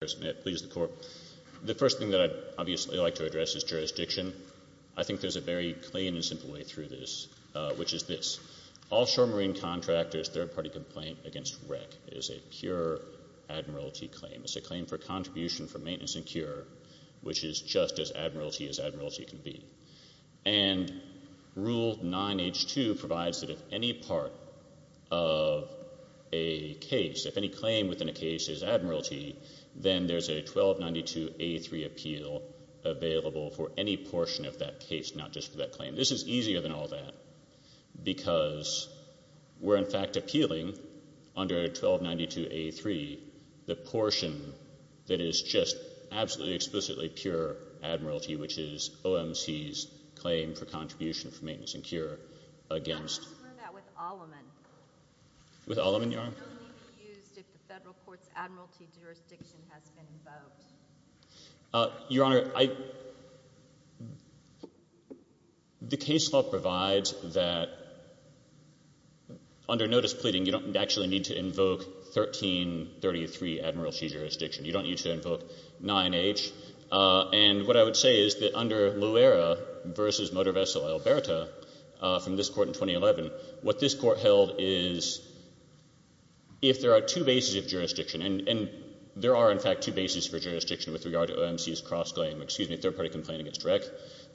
The first thing that I'd obviously like to address is jurisdiction. I think there's a very plain and simple way through this, which is this. Offshore marine contractors' third-party complaint against wreck is a pure admiralty claim. It's a claim for contribution for maintenance and cure, which is just as admiralty as admiralty can be. And Rule 9H2 provides that if any part of a case, if any claim within a case is admiralty, then there's a 1292A3 appeal available for any portion of that case, not just for that claim. This is easier than all that because we're, in fact, appealing under 1292A3 the portion that is just absolutely explicitly pure admiralty, which is OMC's claim for contribution for maintenance and cure against— Your Honor, I—the case law provides that under notice pleading, you don't actually need to invoke 1333 admiralty jurisdiction. You don't need to invoke 9H. And what I would say is that under Loera v. Motor Vessel Alberta from this Court in 2011, what this Court held is if there are two bases of jurisdiction— and there are, in fact, two bases for jurisdiction with regard to OMC's cross-claim— excuse me, third-party complaint against wreck,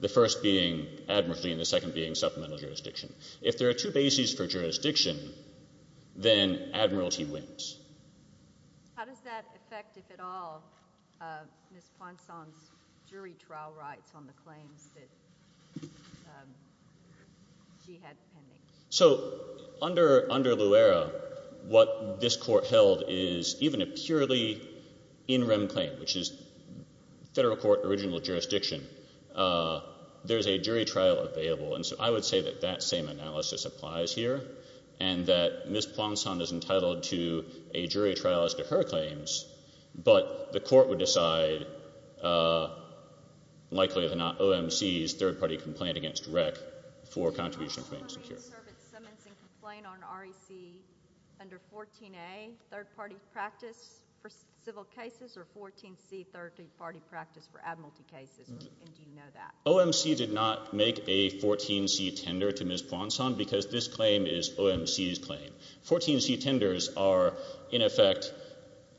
the first being admiralty and the second being supplemental jurisdiction. If there are two bases for jurisdiction, then admiralty wins. How does that affect, if at all, Ms. Plonson's jury trial rights on the claims that she had pending? So under Loera, what this Court held is even a purely in rem claim, which is Federal Court original jurisdiction, there's a jury trial available. And so I would say that that same analysis applies here and that Ms. Plonson is entitled to a jury trial as to her claims, but the Court would decide, likely or not, OMC's third-party complaint against wreck for contribution claims. Can I ask if the Marine Service summons and complain on REC under 14A, third-party practice for civil cases, or 14C, third-party practice for admiralty cases? And do you know that? OMC did not make a 14C tender to Ms. Plonson because this claim is OMC's claim. 14C tenders are, in effect,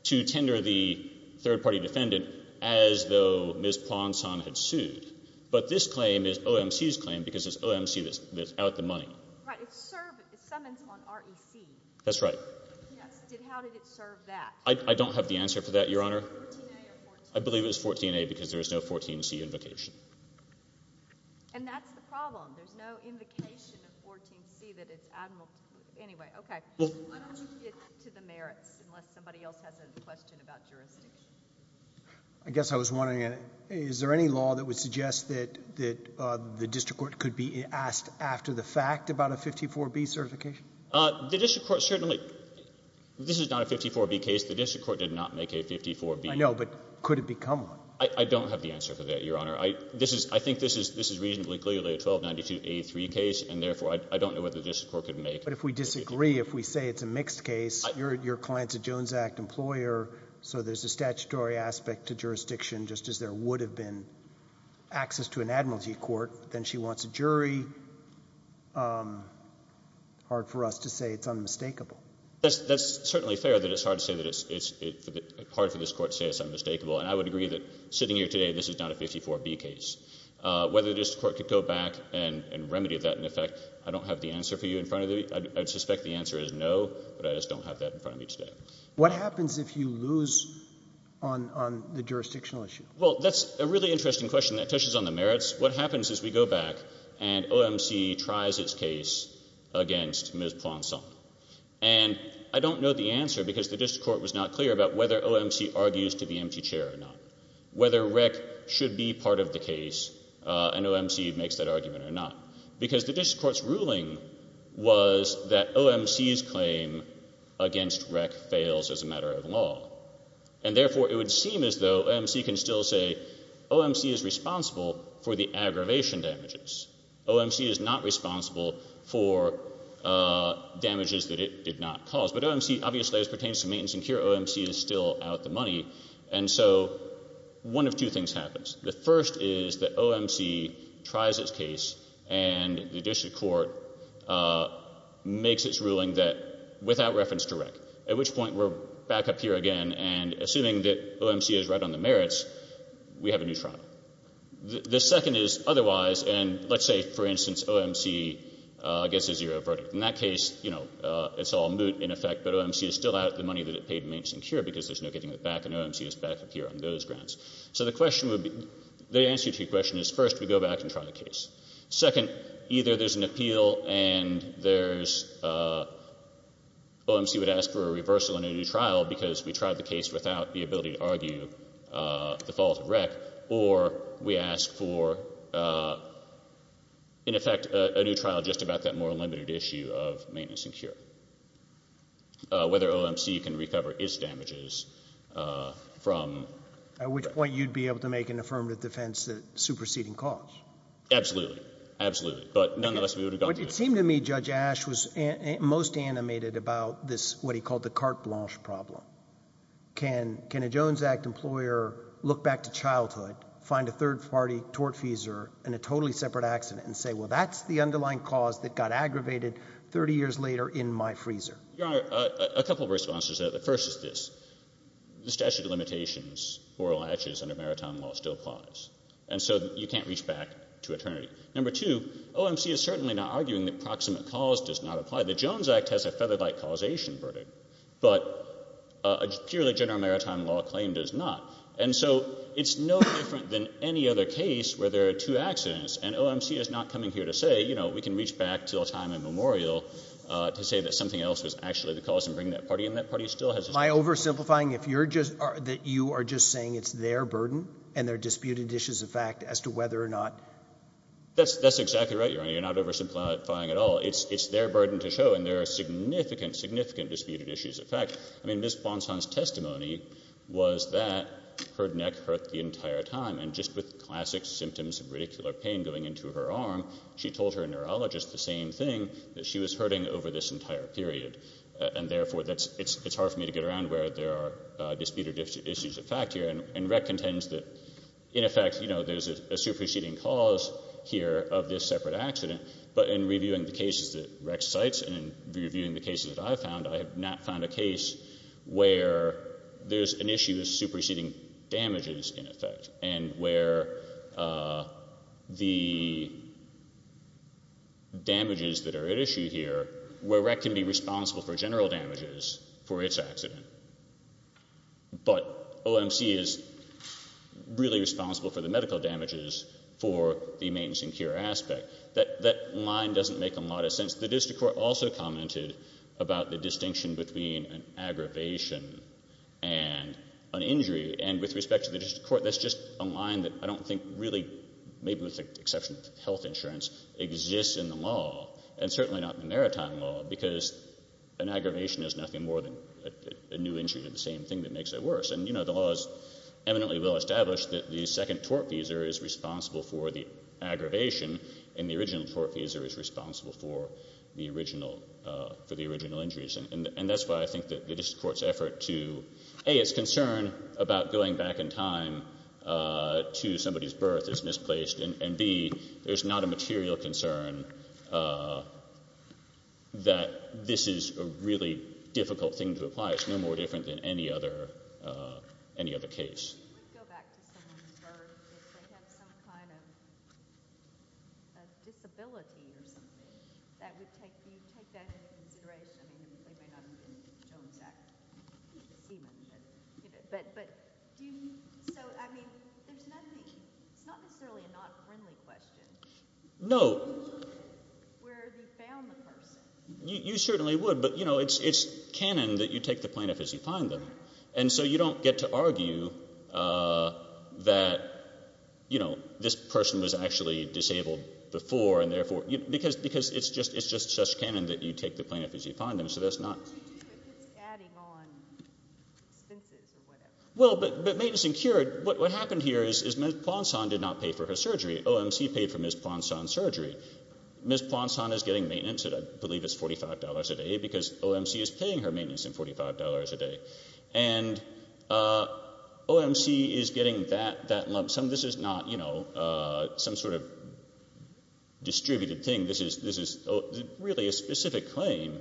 to tender the third-party defendant as though Ms. Plonson had sued. But this claim is OMC's claim because it's OMC that's out the money. Right. It's summons on REC. That's right. Yes. How did it serve that? I don't have the answer for that, Your Honor. 14A or 14C? And that's the problem. There's no invocation of 14C that it's admiralty. Anyway, okay. Why don't you get to the merits, unless somebody else has a question about jurisdiction? I guess I was wondering, is there any law that would suggest that the district court could be asked after the fact about a 54B certification? The district court certainly — this is not a 54B case. The district court did not make a 54B. I know, but could it become one? I don't have the answer for that, Your Honor. I think this is reasonably clearly a 1292-83 case, and therefore I don't know whether the district court could make it. But if we disagree, if we say it's a mixed case, your client's a Jones Act employer, so there's a statutory aspect to jurisdiction, just as there would have been access to an admiralty court. Then she wants a jury. Hard for us to say it's unmistakable. That's certainly fair that it's hard to say that it's — hard for this court to say it's unmistakable. And I would agree that sitting here today, this is not a 54B case. Whether the district court could go back and remedy that in effect, I don't have the answer for you in front of me. I'd suspect the answer is no, but I just don't have that in front of me today. What happens if you lose on the jurisdictional issue? Well, that's a really interesting question. That touches on the merits. What happens is we go back and OMC tries its case against Ms. Planson. And I don't know the answer because the district court was not clear about whether OMC argues to be empty chair or not, whether REC should be part of the case and OMC makes that argument or not. Because the district court's ruling was that OMC's claim against REC fails as a matter of law. And therefore, it would seem as though OMC can still say OMC is responsible for the aggravation damages. OMC is not responsible for damages that it did not cause. But OMC obviously as pertains to maintenance and cure, OMC is still out the money. And so one of two things happens. The first is that OMC tries its case and the district court makes its ruling that without reference to REC, at which point we're back up here again and assuming that OMC is right on the merits, we have a new trial. The second is otherwise and let's say, for instance, OMC gets a zero verdict. In that case, it's all moot in effect, but OMC is still out the money that it paid maintenance and cure because there's no getting it back and OMC is back up here on those grounds. So the question would be, the answer to your question is first we go back and try the case. Second, either there's an appeal and there's OMC would ask for a reversal in a new trial because we tried the case without the ability to argue the fault of REC or we limited issue of maintenance and cure. Whether OMC can recover its damages from At which point you'd be able to make an affirmative defense that superseding cause. Absolutely. Absolutely. But none of us would have gotten to it. But it seemed to me Judge Ash was most animated about this, what he called the carte blanche problem. Can a Jones Act employer look back to childhood, find a third party tortfeasor and a totally separate accident and say, well, that's the underlying cause that got aggravated 30 years later in my freezer. A couple of responses. The first is this. The statute of limitations or latches under maritime law still applies. And so you can't reach back to eternity. Number two, OMC is certainly not arguing that proximate cause does not apply. The Jones Act has a featherlight causation verdict, but a purely general maritime law claim does not. And so it's no different than any other case where there are two accidents. And OMC is not coming here to say, you know, we can reach back till time immemorial to say that something else was actually the cause and bring that party. And that party still has. My oversimplifying. If you're just that you are just saying it's their burden and their disputed issues of fact as to whether or not. That's that's exactly right. You're not oversimplifying at all. It's it's their burden to show. And there are significant, significant disputed issues. In fact, I mean, this Bonson's testimony was that her neck hurt the entire time. And just with classic symptoms of radicular pain going into her arm, she told her neurologist the same thing that she was hurting over this entire period. And therefore, that's it's it's hard for me to get around where there are disputed issues of fact here. And recontends that, in effect, you know, there's a superseding cause here of this separate accident. But in reviewing the cases that rec sites and reviewing the cases that I found, I have not found a case where there's an issue of superseding damages in effect and where the. Damages that are at issue here where rec can be responsible for general damages for its accident. But OMC is really responsible for the medical damages for the maintenance and cure aspect that that line doesn't make a lot of sense. The district court also commented about the distinction between an aggravation and an injury. And with respect to the district court, that's just a line that I don't think really, maybe with the exception of health insurance, exists in the law and certainly not in the maritime law because an aggravation is nothing more than a new injury to the same thing that makes it worse. And, you know, the law is eminently well established that the second tort visa is responsible for the aggravation and the original tort visa is responsible for the original injuries. And that's why I think that the district court's effort to A, its concern about going back in time to somebody's birth is misplaced, and B, there's not a material concern that this is a really difficult thing to apply. It's no more different than any other case. I would go back to someone's birth. If they have some kind of disability or something, do you take that into consideration? I mean, they may not have been in Jones Act. But do you, so, I mean, there's nothing, it's not necessarily a not friendly question. No. Where have you found the person? You certainly would, but, you know, it's canon that you take the plaintiff as you find them. And so you don't get to argue that, you know, this person was actually disabled before and therefore, because it's just such canon that you take the plaintiff as you find them. So that's not. It's adding on expenses or whatever. Well, but maintenance and cure, what happened here is Ms. Plonson did not pay for her surgery. OMC paid for Ms. Plonson's surgery. Ms. Plonson is getting maintenance, I believe it's $45 a day, because OMC is paying her maintenance and $45 a day. And OMC is getting that lump sum. This is not, you know, some sort of distributed thing. This is really a specific claim.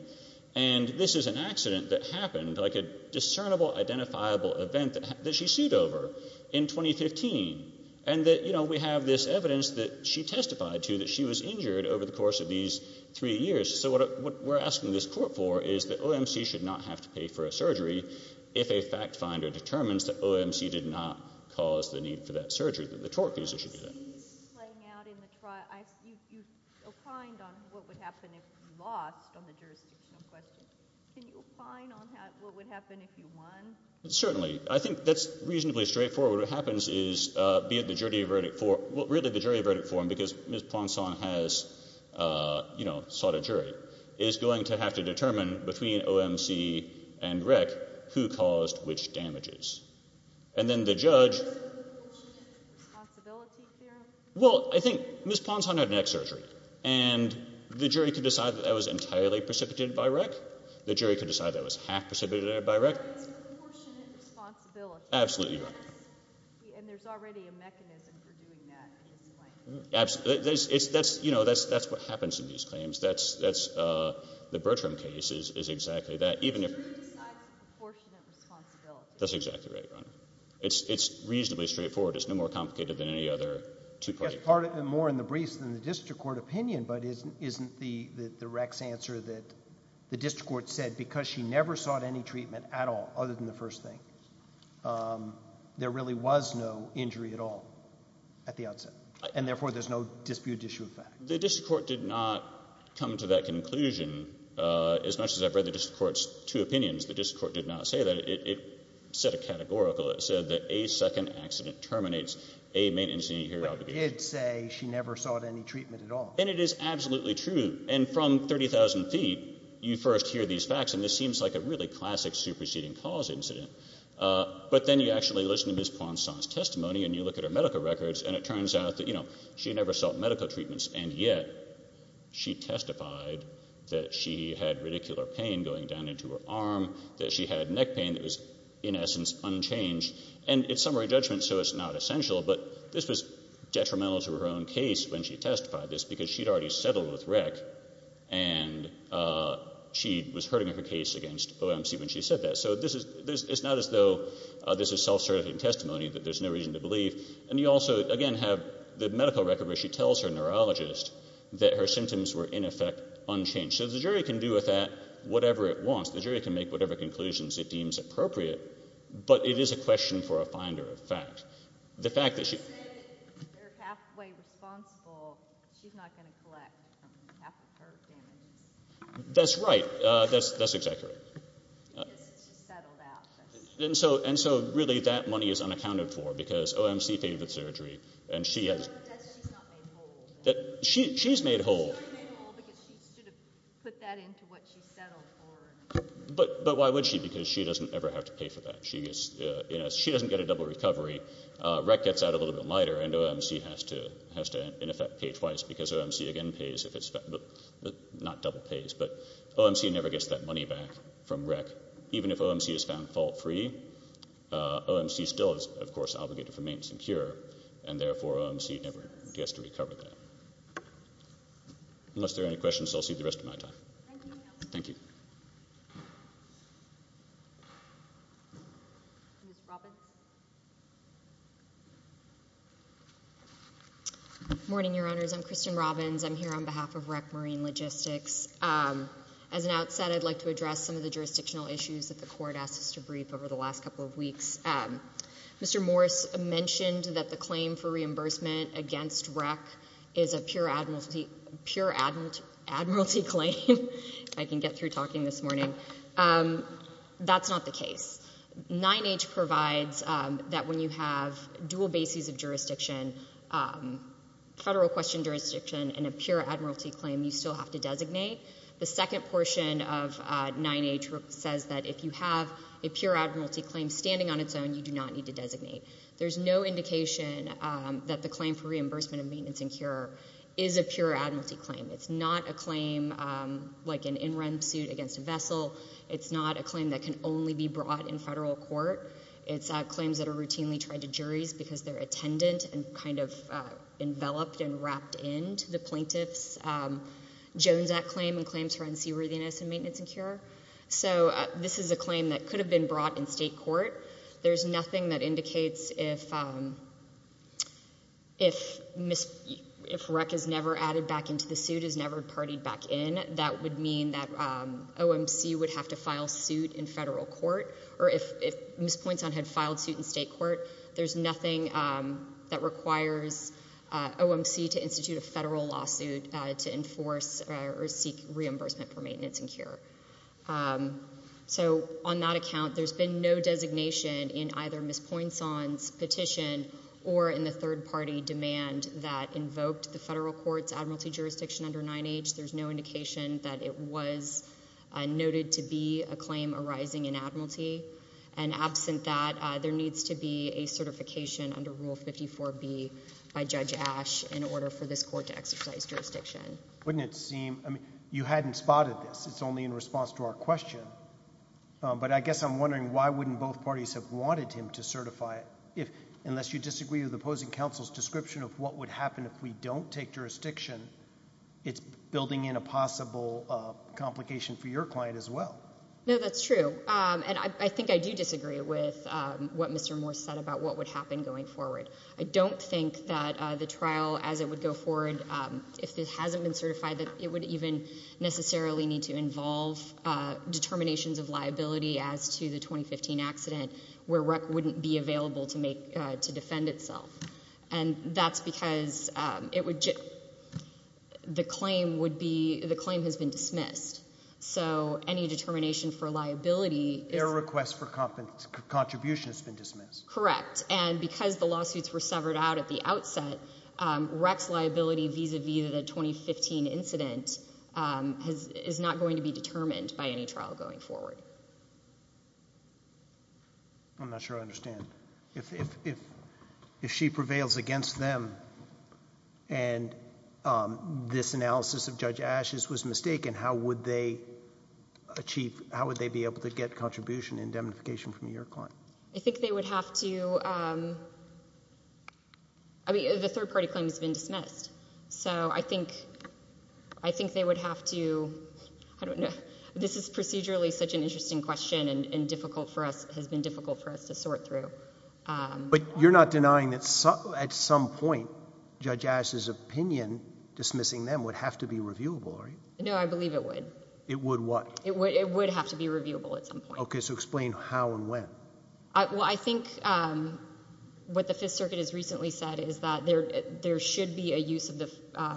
And this is an accident that happened, like a discernible identifiable event that she sued over in 2015. And that, you know, we have this evidence that she testified to that she was injured over the course of these three years. So what we're asking this court for is that OMC should not have to pay for a surgery if a fact finder determines that OMC did not cause the need for that surgery, that the tort accuser should do that. You opined on what would happen if you lost on the jurisdictional question. Can you opine on what would happen if you won? Certainly. I think that's reasonably straightforward. What happens is, be it the jury verdict form, well, really the jury verdict form because Ms. Plonson has, you know, between OMC and REC, who caused which damages. And then the judge. Is there a proportionate responsibility there? Well, I think Ms. Plonson had neck surgery. And the jury could decide that that was entirely precipitated by REC. The jury could decide that it was half precipitated by REC. It's a proportionate responsibility. Absolutely right. And there's already a mechanism for doing that in this case. Absolutely. That's, you know, that's what happens in these claims. The Bertram case is exactly that. The jury decides the proportionate responsibility. That's exactly right, Your Honor. It's reasonably straightforward. It's no more complicated than any other two-party claim. Yes, more in the briefs than the district court opinion, but isn't the REC's answer that the district court said, because she never sought any treatment at all other than the first thing, there really was no injury at all at the outset, and therefore there's no disputed issue of fact? Well, the district court did not come to that conclusion. As much as I've read the district court's two opinions, the district court did not say that. It said a categorical. It said that a second accident terminates a main incident here. But it did say she never sought any treatment at all. And it is absolutely true. And from 30,000 feet, you first hear these facts, and this seems like a really classic superseding cause incident. But then you actually listen to Ms. Plonson's testimony and you look at her medical records, and it turns out that she never sought medical treatments, and yet she testified that she had radicular pain going down into her arm, that she had neck pain that was in essence unchanged. And it's summary judgment, so it's not essential, but this was detrimental to her own case when she testified this because she had already settled with REC, and she was hurting her case against OMC when she said that. So it's not as though this is self-certifying testimony that there's no reason to believe. And you also, again, have the medical record where she tells her neurologist that her symptoms were in effect unchanged. So the jury can do with that whatever it wants. The jury can make whatever conclusions it deems appropriate, but it is a question for a finder of fact. The fact that she... You say that if they're halfway responsible, she's not going to collect half of her damages. That's right. That's exactly right. Because it's just settled out. And so really that money is unaccounted for because OMC paid for the surgery, and she has... She's not made whole. She's made whole. She's not made whole because she should have put that into what she settled for. But why would she? Because she doesn't ever have to pay for that. She doesn't get a double recovery. REC gets out a little bit lighter, and OMC has to in effect pay twice because OMC again pays if it's... not double pays, but OMC never gets that money back from REC. Even if OMC is found fault free, OMC still is, of course, obligated for maintenance and cure, and therefore OMC never gets to recover that. Unless there are any questions, I'll cede the rest of my time. Thank you. Thank you. Ms. Robbins? Good morning, Your Honors. I'm Kristen Robbins. I'm here on behalf of REC Marine Logistics. As an outset, I'd like to address some of the jurisdictional issues that the Court asked us to brief over the last couple of weeks. Mr. Morris mentioned that the claim for reimbursement against REC is a pure admiralty claim. I can get through talking this morning. That's not the case. 9H provides that when you have dual bases of jurisdiction, federal question jurisdiction, and a pure admiralty claim, you still have to designate. The second portion of 9H says that if you have a pure admiralty claim standing on its own, you do not need to designate. There's no indication that the claim for reimbursement of maintenance and cure is a pure admiralty claim. It's not a claim like an in-run suit against a vessel. It's not a claim that can only be brought in federal court. It's claims that are routinely tried to juries because they're attendant and kind of enveloped and wrapped into the plaintiff's. It's a Jones Act claim and claims for unseaworthiness in maintenance and cure. So this is a claim that could have been brought in state court. There's nothing that indicates if REC is never added back into the suit, is never partied back in, that would mean that OMC would have to file suit in federal court. Or if Ms. Pointson had filed suit in state court, there's nothing that requires OMC to institute a federal lawsuit to enforce or seek reimbursement for maintenance and cure. So on that account, there's been no designation in either Ms. Pointson's petition or in the third-party demand that invoked the federal court's admiralty jurisdiction under 9H. There's no indication that it was noted to be a claim arising in admiralty. And absent that, there needs to be a certification under Rule 54B by Judge Ash in order for this court to exercise jurisdiction. Wouldn't it seem, I mean, you hadn't spotted this. It's only in response to our question. But I guess I'm wondering why wouldn't both parties have wanted him to certify it? Unless you disagree with opposing counsel's description of what would happen if we don't take jurisdiction, it's building in a possible complication for your client as well. No, that's true. And I think I do disagree with what Mr. Moore said about what would happen going forward. I don't think that the trial as it would go forward, if it hasn't been certified, that it would even necessarily need to involve determinations of liability as to the 2015 accident where REC wouldn't be available to defend itself. And that's because the claim has been dismissed. So any determination for liability is— Their request for contribution has been dismissed. Correct. And because the lawsuits were severed out at the outset, REC's liability vis-à-vis the 2015 incident is not going to be determined by any trial going forward. I'm not sure I understand. If she prevails against them and this analysis of Judge Ash's was mistaken, how would they achieve—how would they be able to get contribution indemnification from your client? I think they would have to—I mean, the third-party claim has been dismissed. So I think they would have to—I don't know. This is procedurally such an interesting question and difficult for us—has been difficult for us to sort through. But you're not denying that at some point Judge Ash's opinion dismissing them would have to be reviewable, are you? No, I believe it would. It would what? It would have to be reviewable at some point. Okay. So explain how and when. Well, I think what the Fifth Circuit has recently said is that there should be a use of the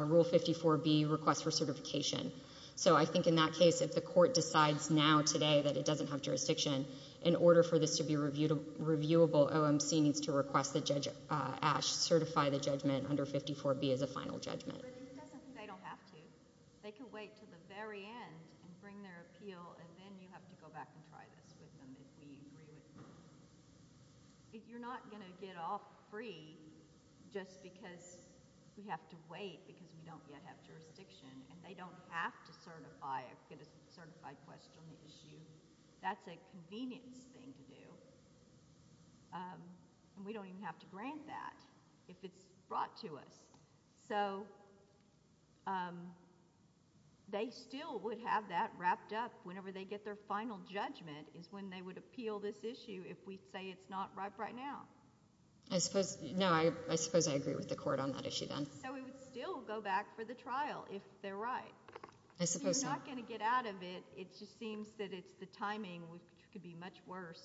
Rule 54B request for certification. So I think in that case, if the court decides now today that it doesn't have jurisdiction, in order for this to be reviewable, OMC needs to request that Judge Ash certify the judgment under 54B as a final judgment. But it doesn't mean they don't have to. They can wait to the very end and bring their appeal, and then you have to go back and try this with them if we agree with you. If you're not going to get off free just because we have to wait because we don't yet have jurisdiction and they don't have to certify a—get a certified question issued, that's a convenience thing to do. And we don't even have to grant that if it's brought to us. So they still would have that wrapped up whenever they get their final judgment is when they would appeal this issue if we say it's not ripe right now. I suppose—no, I suppose I agree with the court on that issue then. So we would still go back for the trial if they're right. I suppose not. So you're not going to get out of it. It just seems that it's the timing which could be much worse.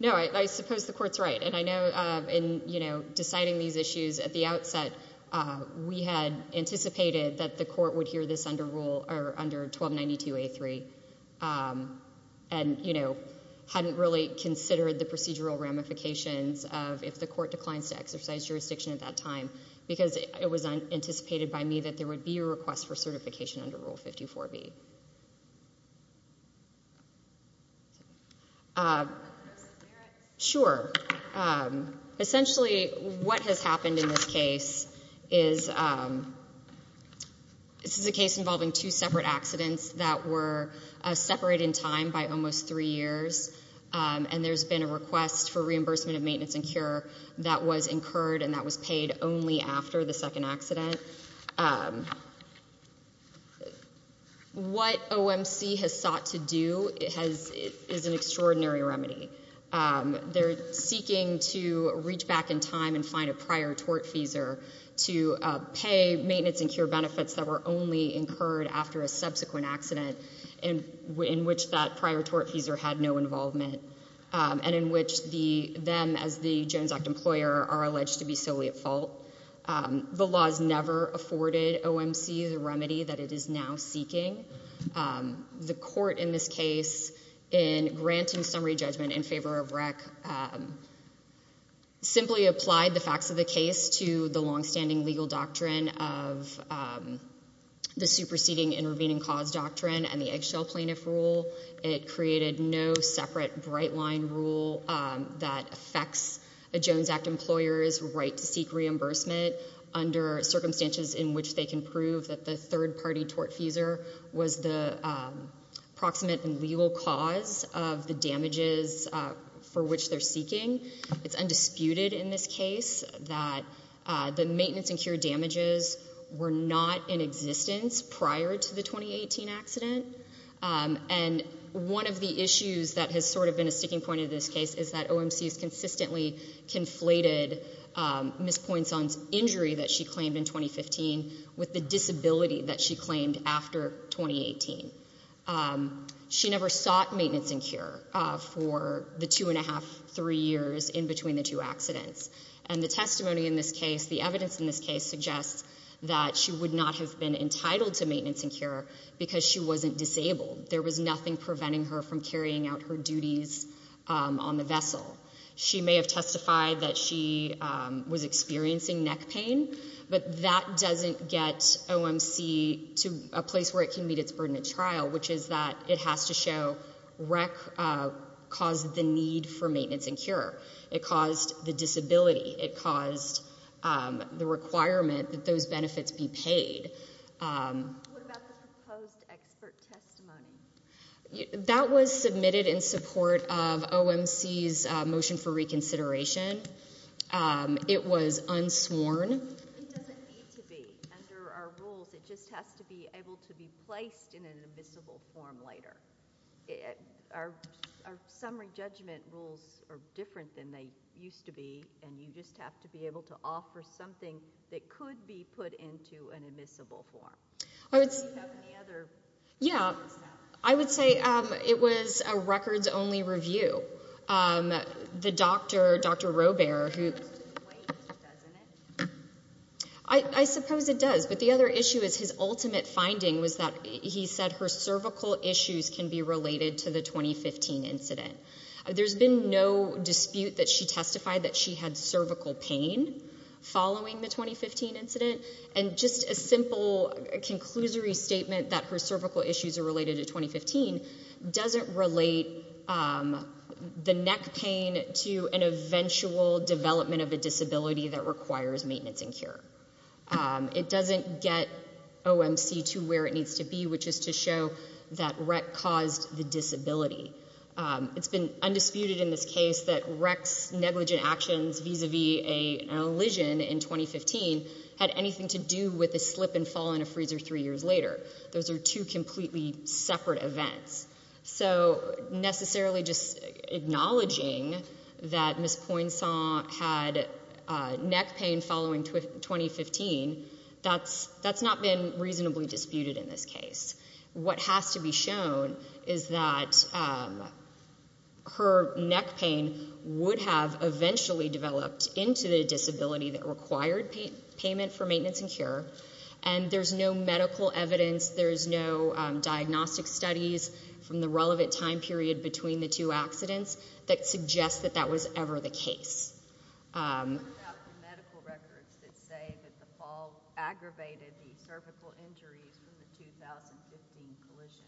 No, I suppose the court's right. And I know in, you know, deciding these issues at the outset, we had anticipated that the court would hear this under Rule—or under 1292A3 and, you know, hadn't really considered the procedural ramifications of if the court declines to exercise jurisdiction at that time because it was anticipated by me that there would be a request for certification under Rule 54B. Could you repeat the question? Sure. Essentially what has happened in this case is this is a case involving two separate accidents that were separated in time by almost three years, and there's been a request for reimbursement of maintenance and cure that was incurred and that was paid only after the second accident. What OMC has sought to do is an extraordinary remedy. They're seeking to reach back in time and find a prior tortfeasor to pay maintenance and cure benefits that were only incurred after a subsequent accident in which that prior tortfeasor had no involvement and in which them, as the Jones Act employer, are alleged to be solely at fault. The laws never afforded OMC the remedy that it is now seeking. The court in this case, in granting summary judgment in favor of REC, simply applied the facts of the case to the longstanding legal doctrine of the superseding intervening cause doctrine and the eggshell plaintiff rule. It created no separate bright-line rule that affects a Jones Act employer's right to seek reimbursement under circumstances in which they can prove that the third-party tortfeasor was the proximate and legal cause of the damages for which they're seeking. It's undisputed in this case that the maintenance and cure damages were not in existence prior to the 2018 accident, and one of the issues that has sort of been a sticking point in this case is that OMC has consistently conflated Ms. Poinson's injury that she claimed in 2015 with the disability that she claimed after 2018. She never sought maintenance and cure for the two and a half, three years in between the two accidents, and the testimony in this case, the evidence in this case, suggests that she would not have been entitled to maintenance and cure because she wasn't disabled. There was nothing preventing her from carrying out her duties on the vessel. She may have testified that she was experiencing neck pain, but that doesn't get OMC to a place where it can meet its burden at trial, which is that it has to show REC caused the need for maintenance and cure. It caused the disability. It caused the requirement that those benefits be paid. What about the proposed expert testimony? That was submitted in support of OMC's motion for reconsideration. It was unsworn. It doesn't need to be under our rules. It just has to be able to be placed in an admissible form later. Our summary judgment rules are different than they used to be, and you just have to be able to offer something that could be put into an admissible form. Do you have any other? Yeah. I would say it was a records-only review. The doctor, Dr. Robear, who- Supposed to wait, doesn't it? I suppose it does, but the other issue is his ultimate finding was that he said her cervical issues can be related to the 2015 incident. There's been no dispute that she testified that she had cervical pain following the 2015 incident, and just a simple conclusory statement that her cervical issues are related to 2015 doesn't relate the neck pain to an eventual development of a disability that requires maintenance and cure. It doesn't get OMC to where it needs to be, which is to show that REC caused the disability. It's been undisputed in this case that REC's negligent actions vis-a-vis an elision in 2015 had anything to do with a slip and fall in a freezer three years later. Those are two completely separate events. So necessarily just acknowledging that Ms. Poinsant had neck pain following 2015, that's not been reasonably disputed in this case. What has to be shown is that her neck pain would have eventually developed into the disability that required payment for maintenance and cure, and there's no medical evidence, there's no diagnostic studies from the relevant time period between the two accidents that suggest that that was ever the case. What about the medical records that say that the fall aggravated the cervical injuries from the 2015 collision?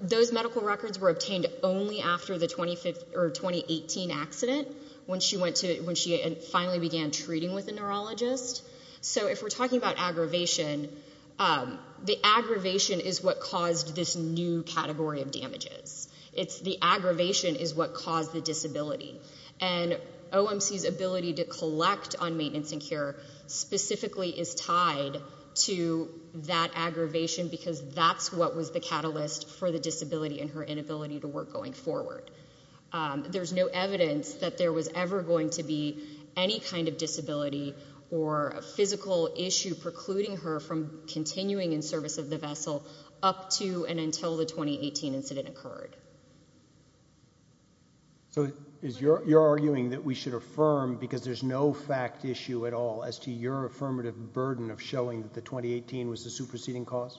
Those medical records were obtained only after the 2018 accident when she finally began treating with a neurologist. So if we're talking about aggravation, the aggravation is what caused this new category of damages. The aggravation is what caused the disability, and OMC's ability to collect on maintenance and cure specifically is tied to that aggravation because that's what was the catalyst for the disability and her inability to work going forward. There's no evidence that there was ever going to be any kind of disability or a physical issue precluding her from continuing in service of the vessel up to and until the 2018 incident occurred. So you're arguing that we should affirm because there's no fact issue at all as to your affirmative burden of showing that the 2018 was the superseding cause?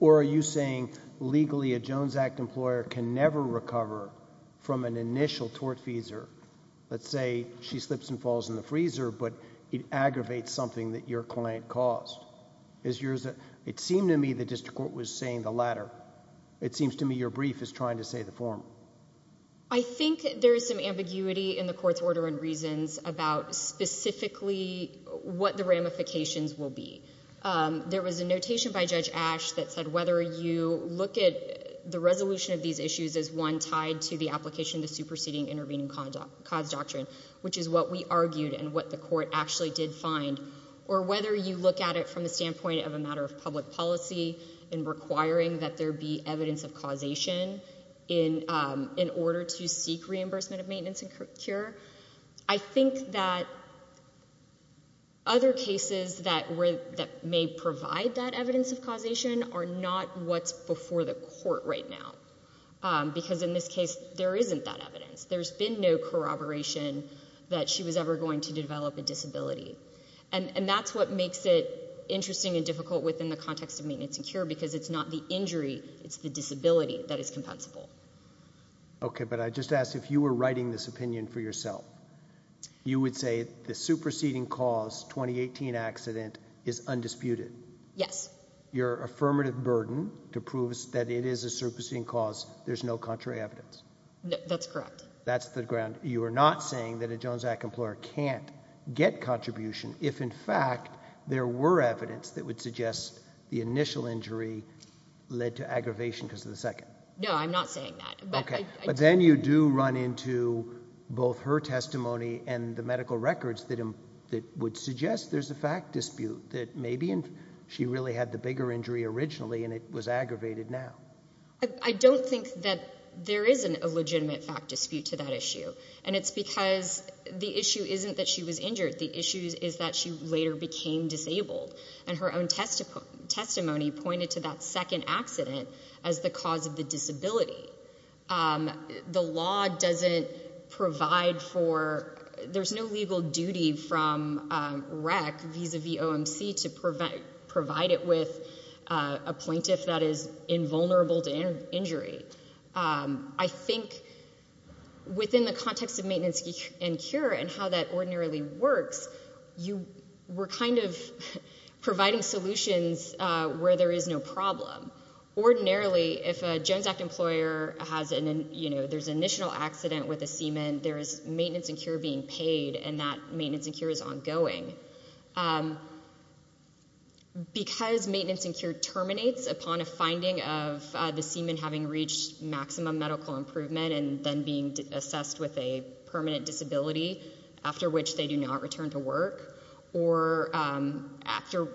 Or are you saying legally a Jones Act employer can never recover from an initial tortfeasor? Let's say she slips and falls in the freezer, but it aggravates something that your client caused. It seemed to me the district court was saying the latter. It seems to me your brief is trying to say the former. I think there is some ambiguity in the court's order and reasons about specifically what the ramifications will be. There was a notation by Judge Ash that said whether you look at the resolution of these issues as one tied to the application of the superseding intervening cause doctrine, which is what we argued and what the court actually did find, or whether you look at it from the standpoint of a matter of public policy and requiring that there be evidence of causation in order to seek reimbursement of maintenance and cure, I think that other cases that may provide that evidence of causation are not what's before the court right now. Because in this case there isn't that evidence. There's been no corroboration that she was ever going to develop a disability. And that's what makes it interesting and difficult within the context of maintenance and cure because it's not the injury, it's the disability that is compensable. Okay, but I just ask if you were writing this opinion for yourself, you would say the superseding cause 2018 accident is undisputed? Yes. Your affirmative burden to prove that it is a superseding cause, there's no contrary evidence? That's correct. That's the ground. You are not saying that a Jones Act employer can't get contribution if, in fact, there were evidence that would suggest the initial injury led to aggravation because of the second? No, I'm not saying that. Okay, but then you do run into both her testimony and the medical records that would suggest there's a fact dispute that maybe she really had the bigger injury originally and it was aggravated now. I don't think that there is a legitimate fact dispute to that issue. And it's because the issue isn't that she was injured. The issue is that she later became disabled. And her own testimony pointed to that second accident as the cause of the disability. The law doesn't provide for, there's no legal duty from REC, vis-a-vis OMC, to provide it with a plaintiff that is invulnerable to injury. I think within the context of maintenance and cure and how that ordinarily works, you were kind of providing solutions where there is no problem. Ordinarily, if a Jones Act employer has an initial accident with a semen, there is maintenance and cure being paid, and that maintenance and cure is ongoing. Because maintenance and cure terminates upon a finding of the semen having reached maximum medical improvement and then being assessed with a permanent disability, after which they do not return to work, or after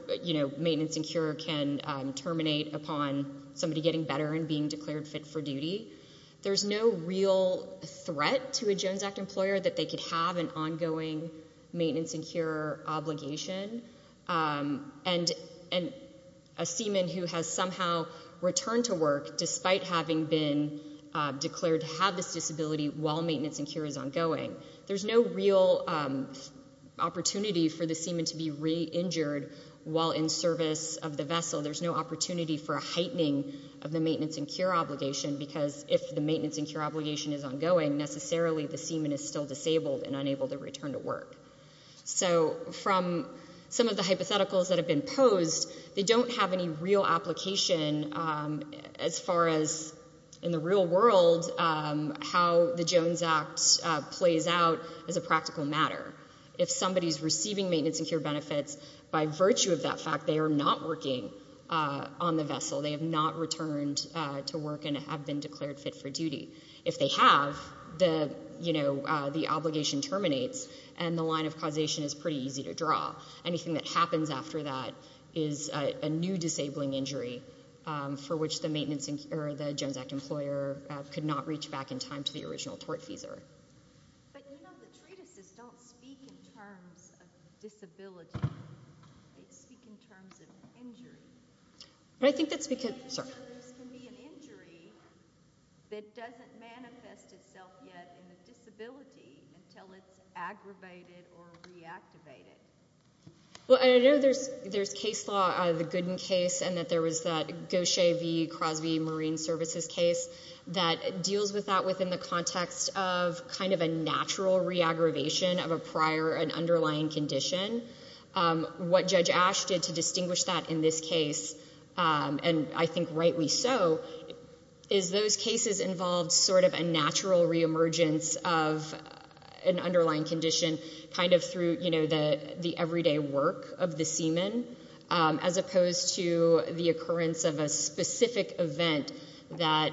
maintenance and cure can terminate upon somebody getting better and being declared fit for duty. There's no real threat to a Jones Act employer that they could have an ongoing maintenance and cure obligation. And a semen who has somehow returned to work, despite having been declared to have this disability, while maintenance and cure is ongoing. There's no real opportunity for the semen to be re-injured while in service of the vessel. There's no opportunity for a heightening of the maintenance and cure obligation, because if the maintenance and cure obligation is ongoing, necessarily the semen is still disabled and unable to return to work. So from some of the hypotheticals that have been posed, they don't have any real application as far as, in the real world, how the Jones Act plays out as a practical matter. If somebody is receiving maintenance and cure benefits, by virtue of that fact, they are not working on the vessel. They have not returned to work and have been declared fit for duty. If they have, the obligation terminates, and the line of causation is pretty easy to draw. Anything that happens after that is a new disabling injury, for which the Jones Act employer could not reach back in time to the original tortfeasor. But, you know, the treatises don't speak in terms of disability. They speak in terms of injury. But I think that's because there can be an injury that doesn't manifest itself yet in the disability until it's aggravated or reactivated. Well, I know there's case law, the Gooden case, and that there was that Gaucher v. Crosby Marine Services case that deals with that within the context of kind of a natural re-aggravation of a prior and underlying condition. What Judge Ash did to distinguish that in this case, and I think rightly so, is those cases involved sort of a natural re-emergence of an underlying condition kind of through, you know, the everyday work of the seaman, as opposed to the occurrence of a specific event that,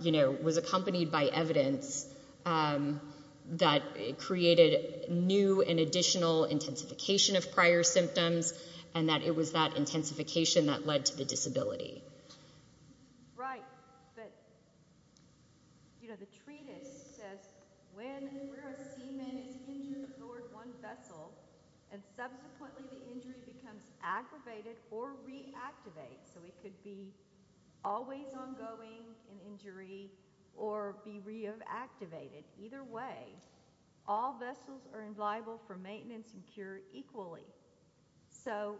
you know, was accompanied by evidence that created new and additional intensification of prior symptoms and that it was that intensification that led to the disability. Right. But, you know, the treatise says when a seaman is injured aboard one vessel and subsequently the injury becomes aggravated or reactivated, so it could be always ongoing, an injury, or be reactivated. Either way, all vessels are liable for maintenance and cure equally. So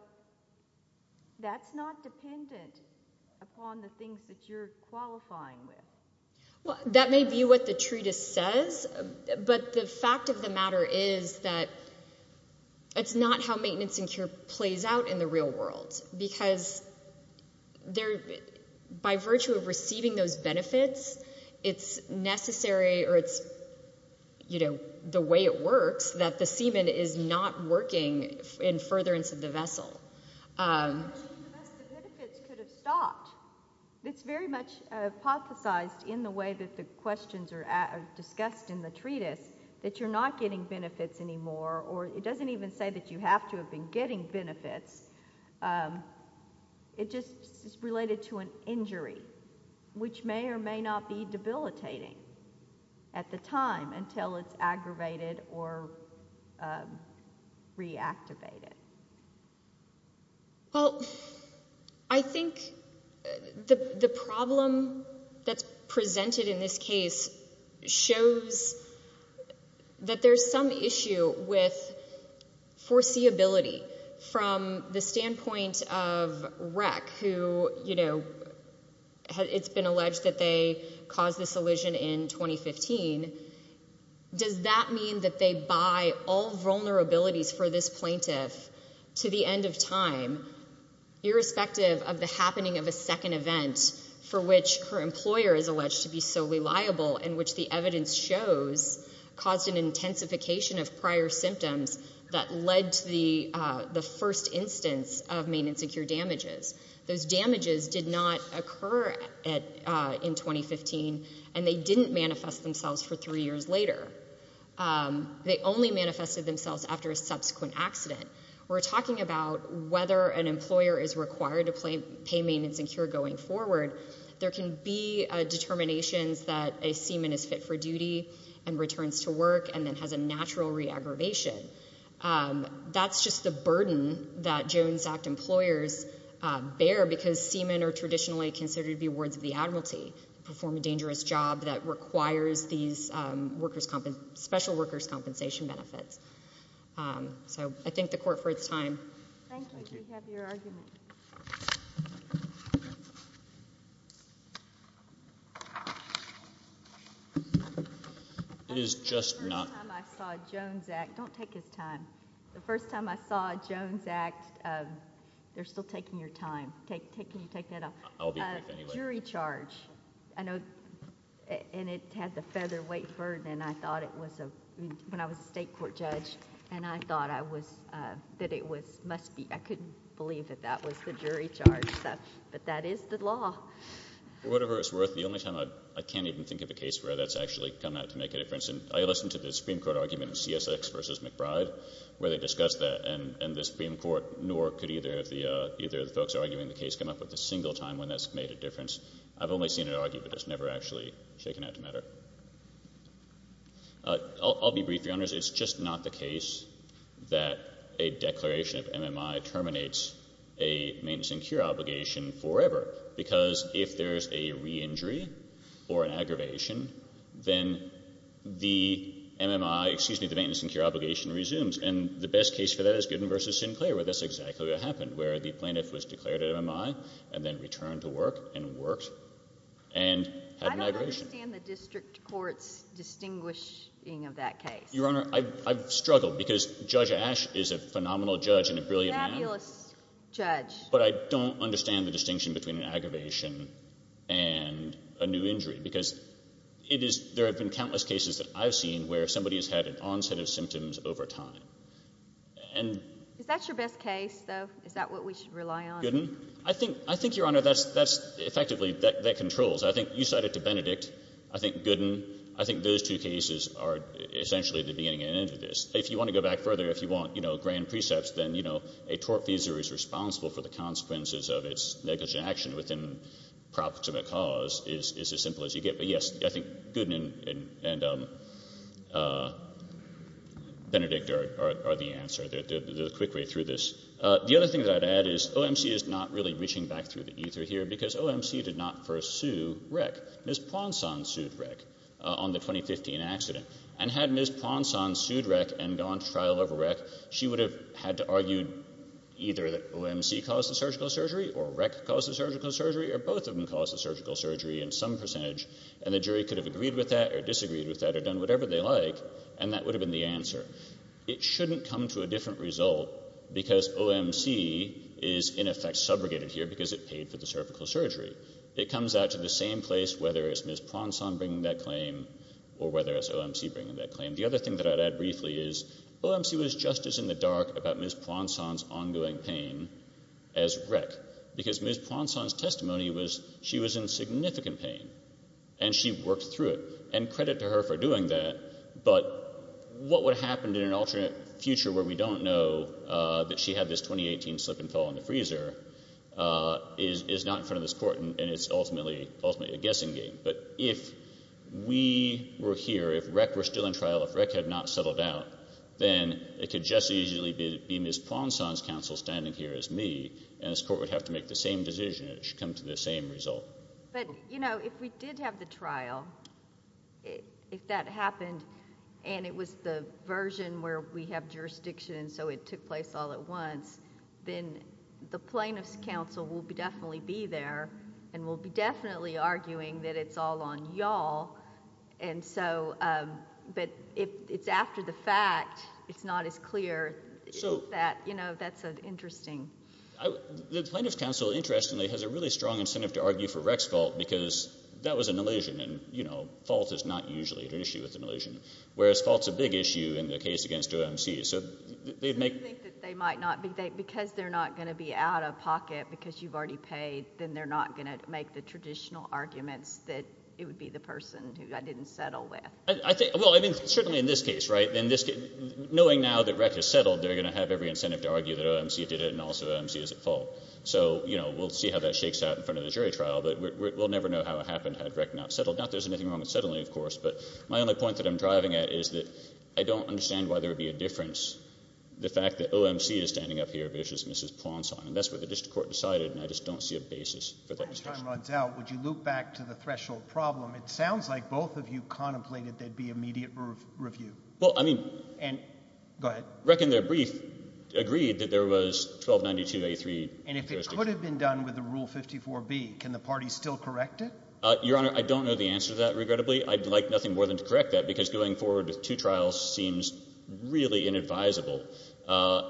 that's not dependent upon the things that you're qualifying with. Well, that may be what the treatise says, but the fact of the matter is that it's not how maintenance and cure plays out in the real world because by virtue of receiving those benefits, it's necessary, or it's, you know, the way it works, that the seaman is not working in furtherance of the vessel. The benefits could have stopped. It's very much hypothesized in the way that the questions are discussed in the treatise that you're not getting benefits anymore, or it doesn't even say that you have to have been getting benefits. It just is related to an injury, which may or may not be debilitating at the time until it's aggravated or reactivated. Well, I think the problem that's presented in this case shows that there's some issue with foreseeability from the standpoint of REC, who, you know, it's been alleged that they caused this elision in 2015. Does that mean that they buy all vulnerabilities for this plaintiff to the end of time, irrespective of the happening of a second event for which her employer is alleged to be so reliable in which the evidence shows caused an intensification of prior symptoms that led to the first instance of maintenance and cure damages. Those damages did not occur in 2015, and they didn't manifest themselves for three years later. They only manifested themselves after a subsequent accident. We're talking about whether an employer is required to pay maintenance and cure going forward. There can be determinations that a seaman is fit for duty and returns to work and then has a natural re-aggravation. That's just the burden that Jones Act employers bear because seamen are traditionally considered to be wards of the admiralty and perform a dangerous job that requires these special workers' compensation benefits. So I thank the Court for its time. Thank you. Thank you. It is just not... The first time I saw Jones Act... Don't take his time. The first time I saw Jones Act... They're still taking your time. Can you take that off? I'll be brief anyway. Jury charge. I know... And it had the featherweight burden, and I thought it was a... When I was a state court judge, and I thought I was... that it must be... I couldn't believe that that was the jury charge. But that is the law. For whatever it's worth, the only time... I can't even think of a case where that's actually come out to make a difference. And I listened to the Supreme Court argument in CSX v. McBride where they discussed that. And the Supreme Court nor could either of the folks arguing the case come up with a single time when that's made a difference. I've only seen it argued, but it's never actually shaken out to matter. I'll be brief, Your Honors. It's just not the case that a declaration of MMI terminates a maintenance and cure obligation forever because if there's a re-injury or an aggravation, then the MMI, excuse me, the maintenance and cure obligation resumes. And the best case for that is Gooden v. Sinclair where that's exactly what happened, where the plaintiff was declared an MMI and then returned to work and worked and had an aggravation. I don't understand the district court's distinguishing of that case. Your Honor, I've struggled because Judge Ash is a phenomenal judge and a brilliant man. A fabulous judge. But I don't understand the distinction between an aggravation and a new injury because there have been countless cases that I've seen where somebody has had an onset of symptoms over time. Is that your best case, though? Is that what we should rely on? Gooden. I think, Your Honor, that's effectively that controls. I think you cited to Benedict. I think Gooden. I think those two cases are essentially the beginning and end of this. If you want to go back further, if you want grand precepts, then a tort visa is responsible for the consequences of its negligent action within proximate cause is as simple as you get. But, yes, I think Gooden and Benedict are the answer. They're the quick way through this. The other thing that I'd add is OMC is not really reaching back through the ether here because OMC did not first sue REC. Ms. Ponson sued REC on the 2015 accident. And had Ms. Ponson sued REC and gone to trial over REC, she would have had to argue either that OMC caused the surgical surgery or REC caused the surgical surgery or both of them caused the surgical surgery in some percentage, and the jury could have agreed with that or disagreed with that or done whatever they like, and that would have been the answer. It shouldn't come to a different result because OMC is, in effect, subrogated here because it paid for the cervical surgery. It comes out to the same place whether it's Ms. Ponson bringing that claim or whether it's OMC bringing that claim. The other thing that I'd add briefly is Ms. Ponson's ongoing pain as REC because Ms. Ponson's testimony was she was in significant pain, and she worked through it. And credit to her for doing that, but what would happen in an alternate future where we don't know that she had this 2018 slip and fall in the freezer is not in front of this Court, and it's ultimately a guessing game. But if we were here, if REC were still in trial, if REC had not settled out, then it could just as easily be Ms. Ponson's counsel standing here as me, and this Court would have to make the same decision, and it should come to the same result. But, you know, if we did have the trial, if that happened, and it was the version where we have jurisdiction so it took place all at once, then the plaintiff's counsel will definitely be there and will be definitely arguing that it's all on y'all. But if it's after the fact, it's not as clear. You know, that's interesting. The plaintiff's counsel, interestingly, has a really strong incentive to argue for REC's fault because that was a nellision, and, you know, fault is not usually an issue with a nellision, whereas fault's a big issue in the case against OMC. So they'd make... Because they're not going to be out of pocket because you've already paid, then they're not going to make the traditional arguments that it would be the person who I didn't settle with. Well, I mean, certainly in this case, right? Knowing now that REC has settled, they're going to have every incentive to argue that OMC did it and also OMC is at fault. So, you know, we'll see how that shakes out in front of the jury trial, but we'll never know how it happened had REC not settled. Not that there's anything wrong with settling, of course, but my only point that I'm driving at is that I don't understand why there would be a difference, the fact that OMC is standing up here, but it's just Mrs. Ponson, and that's what the district court decided, and I just don't see a basis for that discussion. If that discussion runs out, would you loop back to the threshold problem? It sounds like both of you contemplated there'd be immediate review. Well, I mean... Go ahead. REC in their brief agreed that there was 1292A3... And if it could have been done with the Rule 54B, can the party still correct it? Your Honor, I don't know the answer to that, regrettably. I'd like nothing more than to correct that because going forward with two trials seems really inadvisable.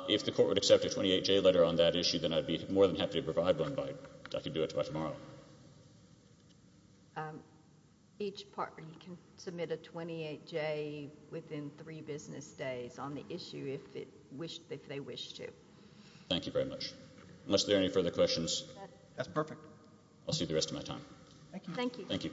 If the court would accept a 28J letter on that issue, then I'd be more than happy to provide one. I could do it by tomorrow. Each party can submit a 28J within three business days on the issue if they wish to. Thank you very much. Unless there are any further questions... That's perfect. I'll see you the rest of my time. Thank you. Thank you.